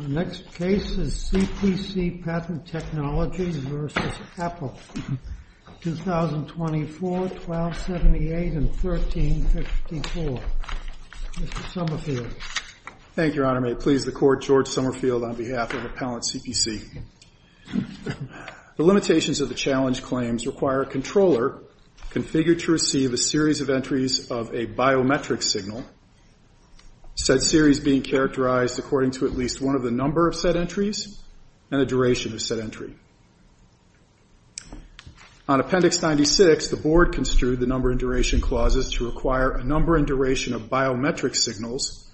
Our next case is CPC Patent Technologies v. Apple, 2024, 1278 and 1354. Mr. Summerfield. Thank you, Your Honor. May it please the Court, George Summerfield on behalf of Appellant CPC. The limitations of the challenge claims require a controller configured to receive a series of entries of a biometric signal, said series being characterized according to at least one of the number of said entries and a duration of said entry. On Appendix 96, the Board construed the number and duration clauses to require a number and duration of biometric signals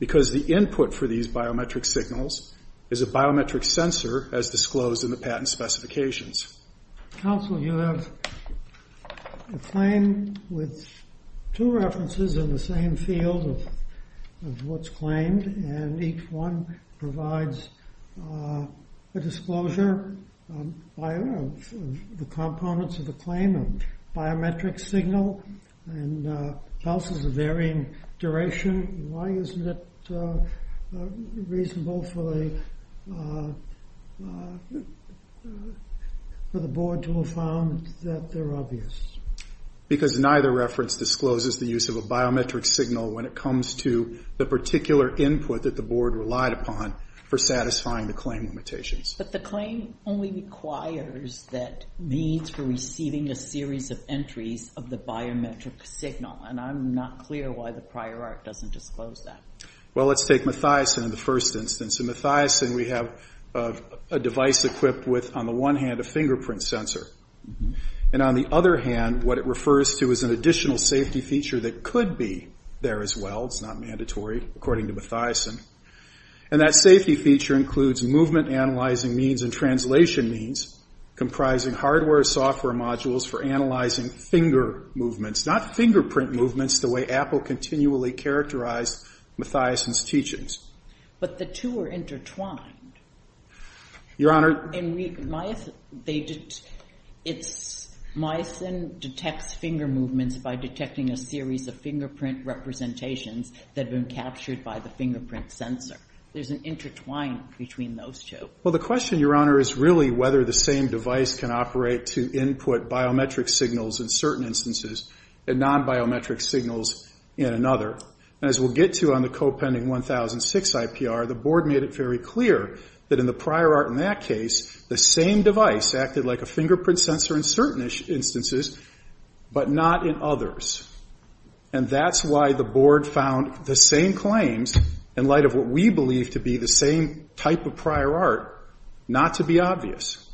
because the input for these biometric signals is a biometric sensor as disclosed in the patent specifications. Counsel, you have a claim with two references in the same field of what's claimed, and each one provides a disclosure of the components of the claim, a biometric signal and clauses of varying duration. Why isn't it reasonable for the Board to have found that they're obvious? Because neither reference discloses the use of a biometric signal when it comes to the particular input that the Board relied upon for satisfying the claim limitations. But the claim only requires that needs for receiving a series of entries of the biometric signal, and I'm not clear why the prior art doesn't disclose that. Well, let's take Mathiasen in the first instance. In Mathiasen, we have a device equipped with, on the one hand, a fingerprint sensor. And on the other hand, what it refers to is an additional safety feature that could be there as well. It's not mandatory, according to Mathiasen. And that safety feature includes movement analyzing means and translation means, comprising hardware and software modules for analyzing finger movements, not fingerprint movements the way Apple continually characterized Mathiasen's teachings. But the two are intertwined. Your Honor. Mathiasen detects finger movements by detecting a series of fingerprint representations that have been captured by the fingerprint sensor. There's an intertwining between those two. Well, the question, Your Honor, is really whether the same device can operate to input biometric signals in certain instances and nonbiometric signals in another. And as we'll get to on the co-pending 1006 IPR, the Board made it very clear that in the prior art in that case, the same device acted like a fingerprint sensor in certain instances but not in others. And that's why the Board found the same claims, in light of what we believe to be the same type of prior art, not to be obvious.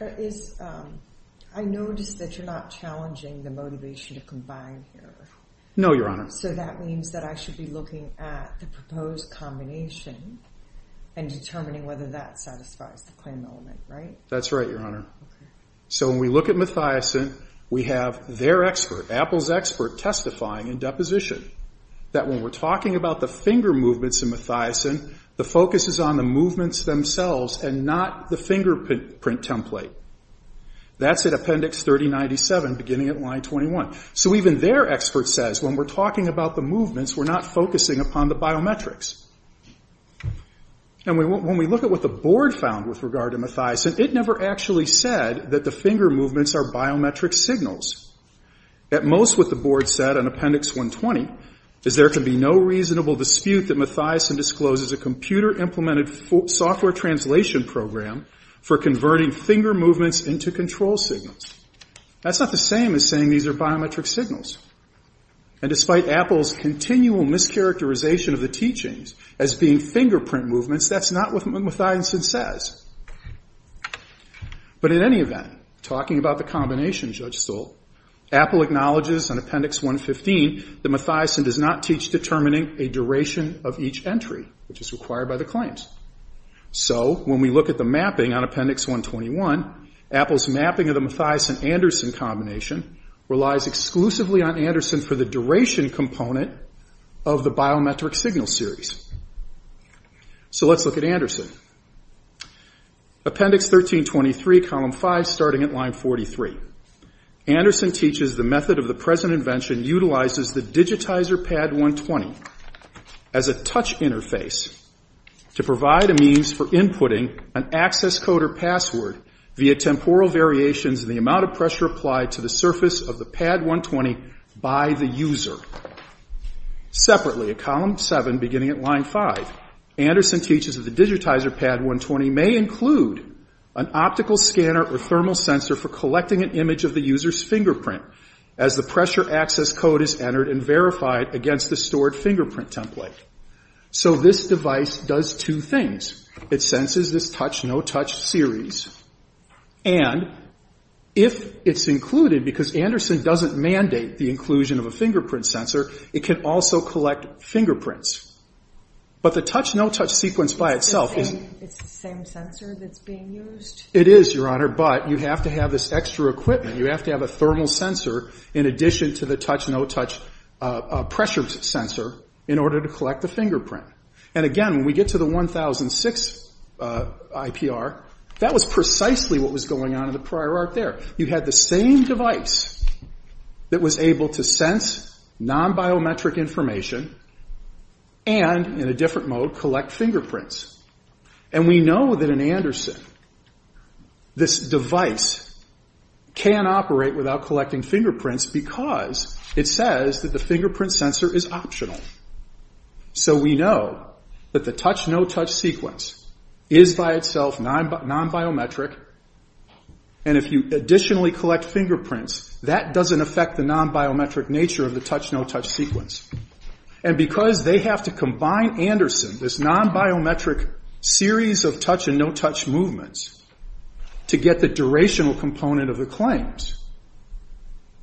I notice that you're not challenging the motivation to combine here. No, Your Honor. So that means that I should be looking at the proposed combination and determining whether that satisfies the claim element, right? That's right, Your Honor. So when we look at Mathiasen, we have their expert, Apple's expert, testifying in deposition that when we're talking about the finger movements in Mathiasen, the focus is on the movements themselves and not the fingerprint template. That's at Appendix 3097, beginning at line 21. So even their expert says when we're talking about the movements, we're not focusing upon the biometrics. And when we look at what the Board found with regard to Mathiasen, it never actually said that the finger movements are biometric signals. At most, what the Board said on Appendix 120 is there can be no reasonable dispute that Mathiasen discloses a computer-implemented software translation program for converting finger movements into control signals. That's not the same as saying these are biometric signals. And despite Apple's continual mischaracterization of the teachings as being fingerprint movements, that's not what Mathiasen says. But in any event, talking about the combination, Judge Stoll, Apple acknowledges in Appendix 115 that Mathiasen does not teach determining a duration of each entry, which is required by the claims. So when we look at the mapping on Appendix 121, Apple's mapping of the Mathiasen-Anderson combination relies exclusively on Anderson for the duration component of the biometric signal series. So let's look at Anderson. Appendix 1323, column 5, starting at line 43. Anderson teaches the method of the present invention utilizes the digitizer pad 120 as a touch interface to provide a means for inputting an access code or password via temporal variations in the amount of pressure applied to the surface of the pad 120 by the user. Separately, at column 7, beginning at line 5, Anderson teaches that the digitizer pad 120 may include an optical scanner or thermal sensor for collecting an image of the user's fingerprint as the pressure access code is entered and verified against the stored fingerprint template. So this device does two things. It senses this touch-no-touch series. And if it's included, because Anderson doesn't mandate the inclusion of a fingerprint sensor, it can also collect fingerprints. But the touch-no-touch sequence by itself is... It's the same sensor that's being used? It is, Your Honor, but you have to have this extra equipment. You have to have a thermal sensor in addition to the touch-no-touch pressure sensor in order to collect the fingerprint. And again, when we get to the 1006 IPR, that was precisely what was going on in the prior arc there. You had the same device that was able to sense non-biometric information and, in a different mode, collect fingerprints. And we know that in Anderson, this device can operate without collecting fingerprints because it says that the fingerprint sensor is optional. So we know that the touch-no-touch sequence is by itself non-biometric. And if you additionally collect fingerprints, that doesn't affect the non-biometric nature of the touch-no-touch sequence. And because they have to combine Anderson, this non-biometric series of touch-and-no-touch movements, to get the durational component of the claims,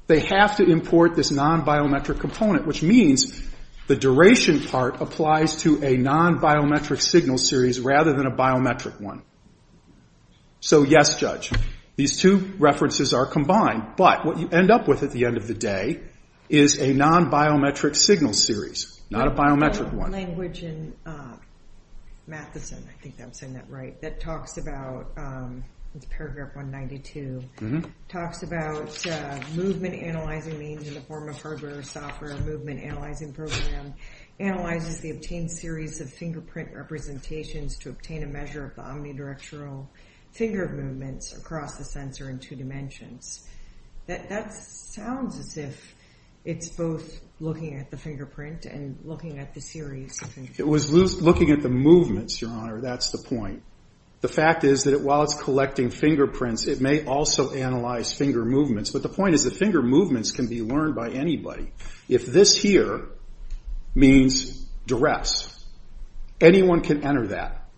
they have to import this non-biometric component, which means the duration part applies to a non-biometric signal series rather than a biometric one. So yes, Judge, these two references are combined. But what you end up with at the end of the day is a non-biometric signal series, not a biometric one. There's a language in Matheson, I think I'm saying that right, that talks about, it's paragraph 192, talks about movement analyzing means in the form of hardware or software, movement analyzing program, analyzes the obtained series of fingerprint representations to obtain a measure of the omnidirectional finger movements across the sensor in two dimensions. That sounds as if it's both looking at the fingerprint and looking at the series. It was looking at the movements, Your Honor, that's the point. The fact is that while it's collecting fingerprints, it may also analyze finger movements. But the point is that finger movements can be learned by anybody. If this here means duress, anyone can enter that.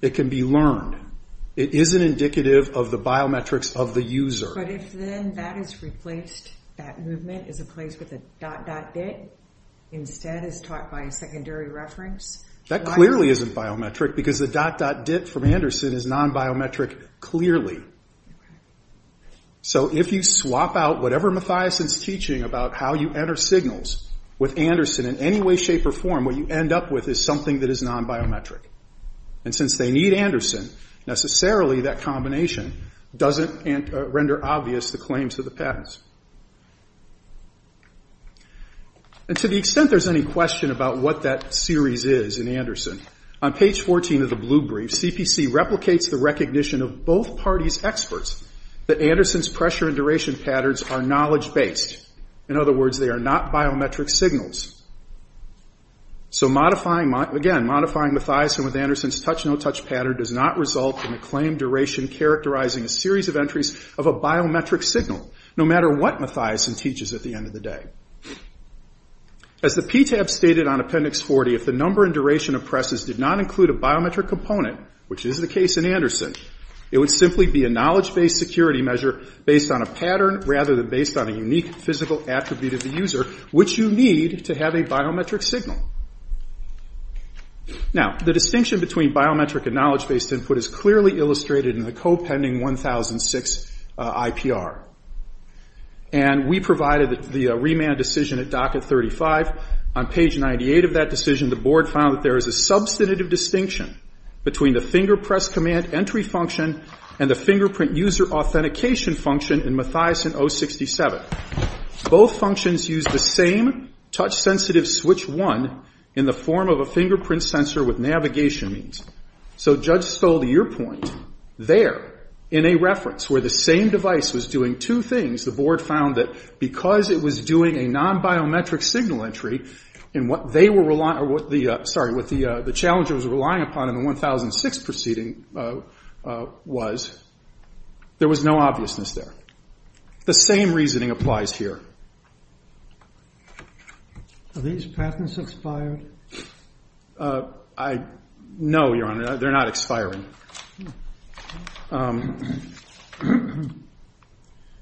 It can be learned. It isn't indicative of the biometrics of the user. But if then that is replaced, that movement is replaced with a dot-dot-dit, instead it's taught by a secondary reference? That clearly isn't biometric, because the dot-dot-dit from Anderson is non-biometric, clearly. So if you swap out whatever Matheson's teaching about how you enter signals with Anderson in any way, shape, or form, what you end up with is something that is non-biometric. And since they need Anderson, necessarily that combination doesn't render obvious the claims to the patents. And to the extent there's any question about what that series is in Anderson, on page 14 of the blue brief, CPC replicates the recognition of both parties' experts that Anderson's pressure and duration patterns are knowledge-based. In other words, they are not biometric signals. So again, modifying Matheson with Anderson's touch-no-touch pattern does not result in a claim duration characterizing a series of entries of a biometric signal, no matter what Matheson teaches at the end of the day. As the PTAB stated on Appendix 40, if the number and duration of presses did not include a biometric component, which is the case in Anderson, it would simply be a knowledge-based security measure based on a pattern, rather than based on a unique physical attribute of the user, which you need to have a biometric signal. Now, the distinction between biometric and knowledge-based input is clearly illustrated in the co-pending 1006 IPR. And we provided the remand decision at docket 35. On page 98 of that decision, the board found that there is a substantive distinction between the finger press command entry function and the fingerprint user authentication function in Matheson 067. Both functions use the same touch-sensitive switch 1 in the form of a fingerprint sensor with navigation means. So Judge Stoll, to your point, there, in a reference where the same device was doing two things, the board found that because it was doing a non-biometric signal entry, what the challenger was relying upon in the 1006 proceeding was there was no obviousness there. The same reasoning applies here. Are these patents expired? No, Your Honor, they're not expiring.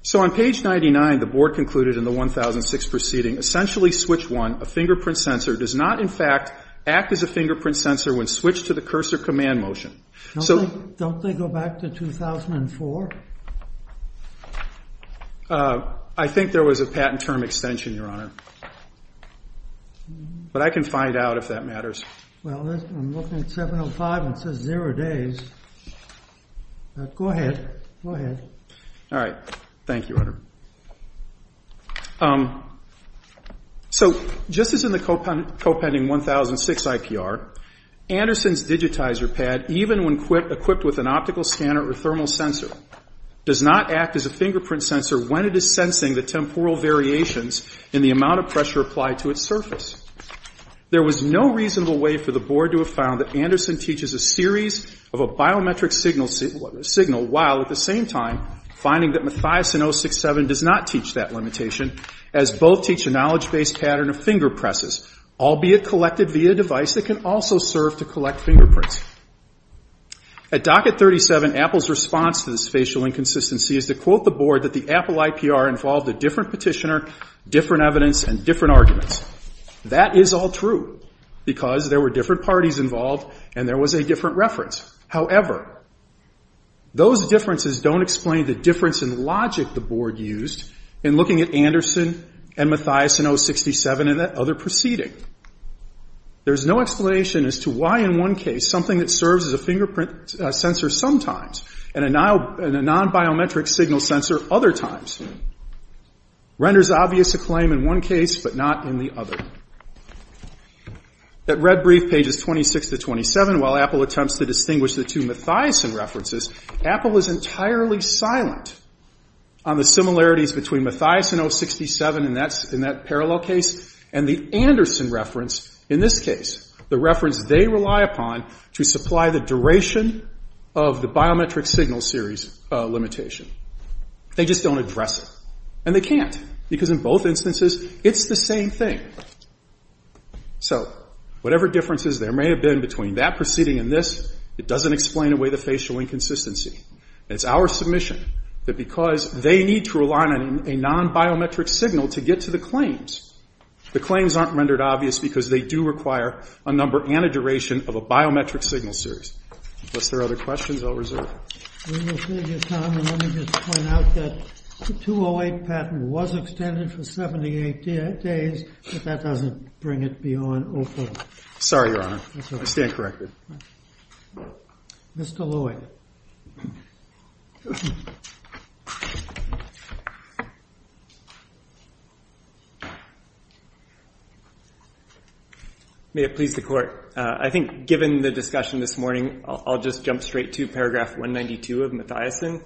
So on page 99, the board concluded in the 1006 proceeding, essentially switch 1, a fingerprint sensor does not, in fact, act as a fingerprint sensor when switched to the cursor command motion. Don't they go back to 2004? I think there was a patent term extension, Your Honor. But I can find out if that matters. Well, I'm looking at 705 and it says zero days. Go ahead. All right. Thank you, Your Honor. So just as in the co-pending 1006 IPR, Anderson's digitizer pad, even when equipped with an optical scanner or thermal sensor, does not act as a fingerprint sensor when it is sensing the temporal variations in the amount of pressure applied to its surface. There was no reasonable way for the board to have found that Anderson teaches a series of a biometric signal while at the same time finding that Mathias in 067 does not teach that limitation as both teach a knowledge-based pattern of finger presses, albeit collected via a device that can also serve to collect fingerprints. At docket 37, Apple's response to this facial inconsistency is to quote the board that the Apple IPR involved a different petitioner, different evidence, and different arguments. That is all true because there were different parties involved and there was a different reference. However, those differences don't explain the difference in logic the board used in looking at Anderson and Mathias in 067 and that other proceeding. There's no explanation as to why in one case something that serves as a fingerprint sensor sometimes and a non-biometric signal sensor other times renders obvious a claim in one case but not in the other. At red brief pages 26 to 27, while Apple attempts to distinguish the two Mathias references, Apple is entirely silent on the similarities between Mathias in 067 in that parallel case and the Anderson reference in this case, the reference they rely upon to supply the duration of the biometric signal series limitation. They just don't address it and they can't because in both instances it's the same thing. So whatever differences there may have been between that proceeding and this, it doesn't explain away the facial inconsistency. It's our submission that because they need to rely on a non-biometric signal to get to the claims, the claims aren't rendered obvious because they do require a number and a duration of a biometric signal series. Unless there are other questions I'll reserve. We will save you time and let me just point out that the 208 patent was extended for 78 days but that doesn't bring it beyond 04. Sorry, Your Honor. I stand corrected. Mr. Lloyd. May it please the Court. I think given the discussion this morning, I'll just jump straight to paragraph 192 of Mathiasen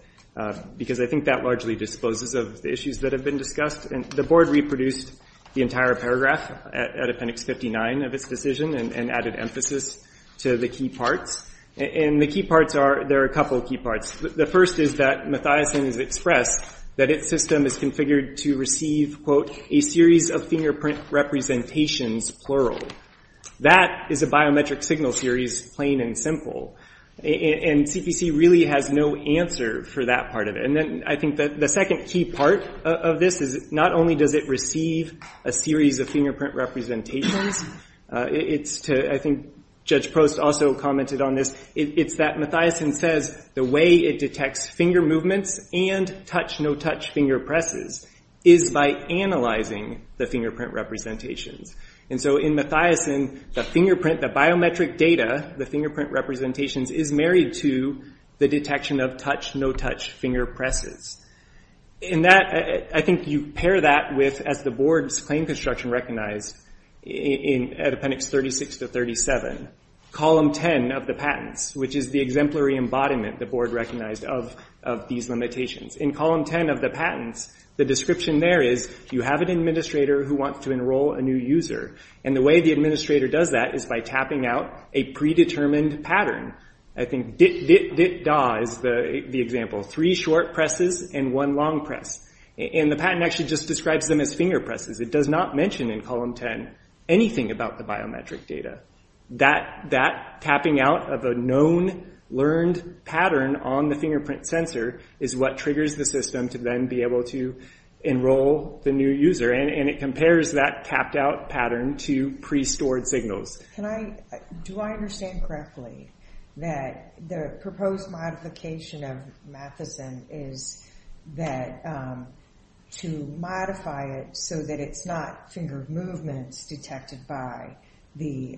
because I think that largely disposes of the issues that have been discussed. The Board reproduced the entire paragraph at appendix 59 of its decision and added emphasis to the key parts. And the key parts are, there are a couple of key parts. The first is that Mathiasen has expressed that its system is configured to receive, quote, a series of fingerprint representations, plural. That is a biometric signal series, plain and simple. And CPC really has no answer for that part of it. And then I think that the second key part of this is not only does it receive a series of fingerprint representations, it's to, I think Judge Prost also commented on this, it's that Mathiasen says the way it detects finger movements and touch-no-touch finger presses is by analyzing the fingerprint representations. And so in Mathiasen, the fingerprint, the biometric data, the fingerprint representations, is married to the detection of touch-no-touch finger presses. In that, I think you pair that with, as the Board's claim construction recognized at appendix 36 to 37, column 10 of the patents, which is the exemplary embodiment the Board recognized of these limitations. In column 10 of the patents, the description there is you have an administrator who wants to enroll a new user. And the way the administrator does that is by tapping out a predetermined pattern. I think dit-dit-dit-da is the example, three short presses and one long press. And the patent actually just describes them as finger presses. It does not mention in column 10 anything about the biometric data. That tapping out of a known, learned pattern on the fingerprint sensor is what triggers the system to then be able to enroll the new user. And it compares that tapped-out pattern to pre-stored signals. Do I understand correctly that the proposed modification of Matheson is to modify it so that it's not finger movements detected by the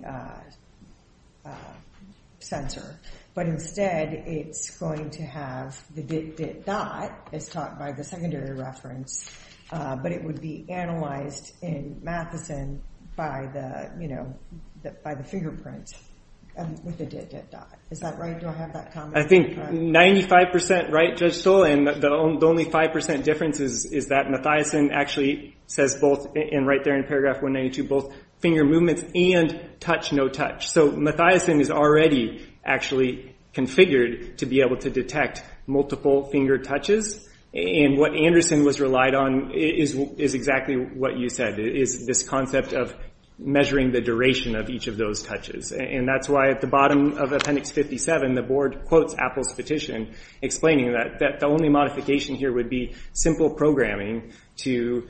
sensor, but instead it's going to have the dit-dit-dot, as taught by the secondary reference, but it would be analyzed in Matheson by the fingerprint with the dit-dit-dot. Is that right? Do I have that comment? I think 95 percent right, Judge Stoll. And the only 5 percent difference is that Matheson actually says both, and right there in paragraph 192, both finger movements and touch-no-touch. So Matheson is already actually configured to be able to detect multiple finger touches. And what Anderson was relied on is exactly what you said, is this concept of measuring the duration of each of those touches. And that's why at the bottom of appendix 57 the board quotes Apple's petition explaining that the only modification here would be simple programming to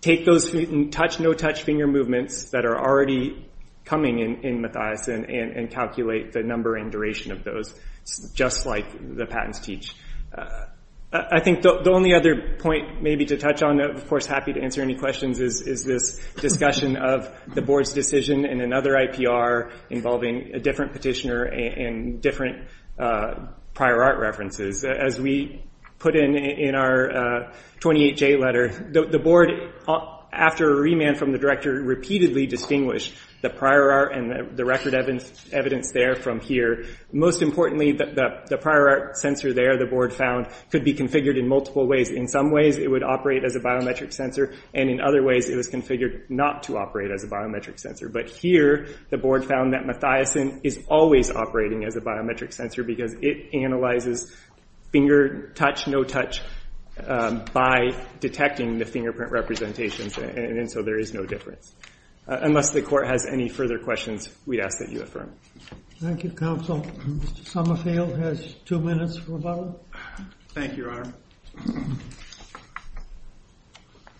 take those touch-no-touch finger movements that are already coming in Matheson and calculate the number and duration of those, just like the patents teach. I think the only other point maybe to touch on, of course happy to answer any questions, is this discussion of the board's decision in another IPR involving a different petitioner and different prior art references. As we put in our 28J letter, the board, after a remand from the director, repeatedly distinguished the prior art and the record evidence there from here. Most importantly, the prior art sensor there, the board found, could be configured in multiple ways. In some ways it would operate as a biometric sensor, and in other ways it was configured not to operate as a biometric sensor. But here the board found that Matheson is always operating as a biometric sensor because it analyzes finger touch-no-touch by detecting the fingerprint representations, and so there is no difference. Unless the court has any further questions, we ask that you affirm. Thank you, counsel. Mr. Summerfield has two minutes for a vote. Thank you, Your Honor.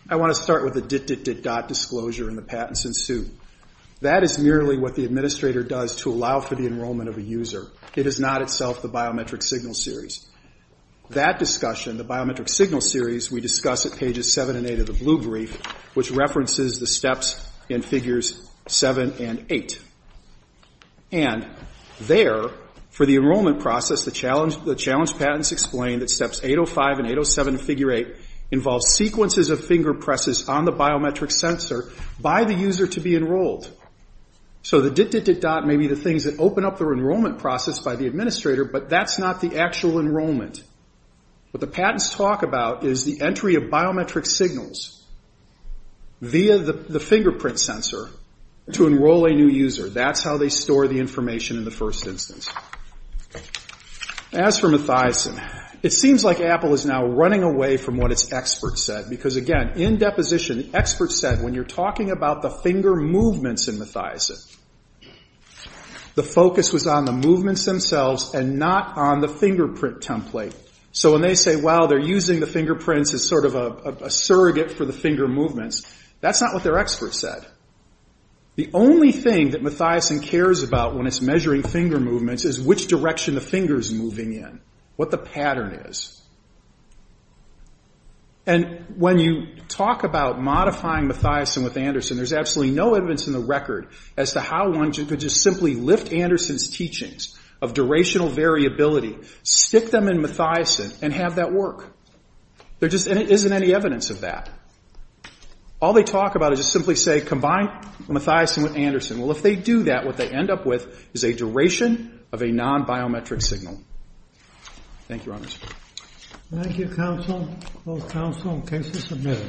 I want to start with the dit-dit-dit-dot disclosure and the patents ensue. That is merely what the administrator does to allow for the enrollment of a user. It is not itself the biometric signal series. That discussion, the biometric signal series, we discuss at pages 7 and 8 of the blue brief, which references the steps in Figures 7 and 8. And there, for the enrollment process, the challenge patents explain that Steps 805 and 807 of Figure 8 involve sequences of finger presses on the biometric sensor by the user to be enrolled. So the dit-dit-dit-dot may be the things that open up the enrollment process by the administrator, but that is not the actual enrollment. What the patents talk about is the entry of biometric signals via the fingerprint sensor to enroll a new user. That is how they store the information in the first instance. As for Mathiasen, it seems like Apple is now running away from what its experts said, because, again, in deposition, the experts said when you are talking about the finger movements in Mathiasen, the focus was on the movements themselves and not on the fingerprint template. So when they say, well, they are using the fingerprints as sort of a surrogate for the finger movements, that is not what their experts said. The only thing that Mathiasen cares about when it is measuring finger movements is which direction the finger is moving in, what the pattern is. And when you talk about modifying Mathiasen with Anderson, there is absolutely no evidence in the record as to how one could just simply lift Anderson's teachings of durational variability, stick them in Mathiasen, and have that work. There just isn't any evidence of that. All they talk about is just simply say, combine Mathiasen with Anderson. Well, if they do that, what they end up with is a duration of a non-biometric signal. Thank you, Your Honors. Thank you, Counsel. Both counsel and cases submitted.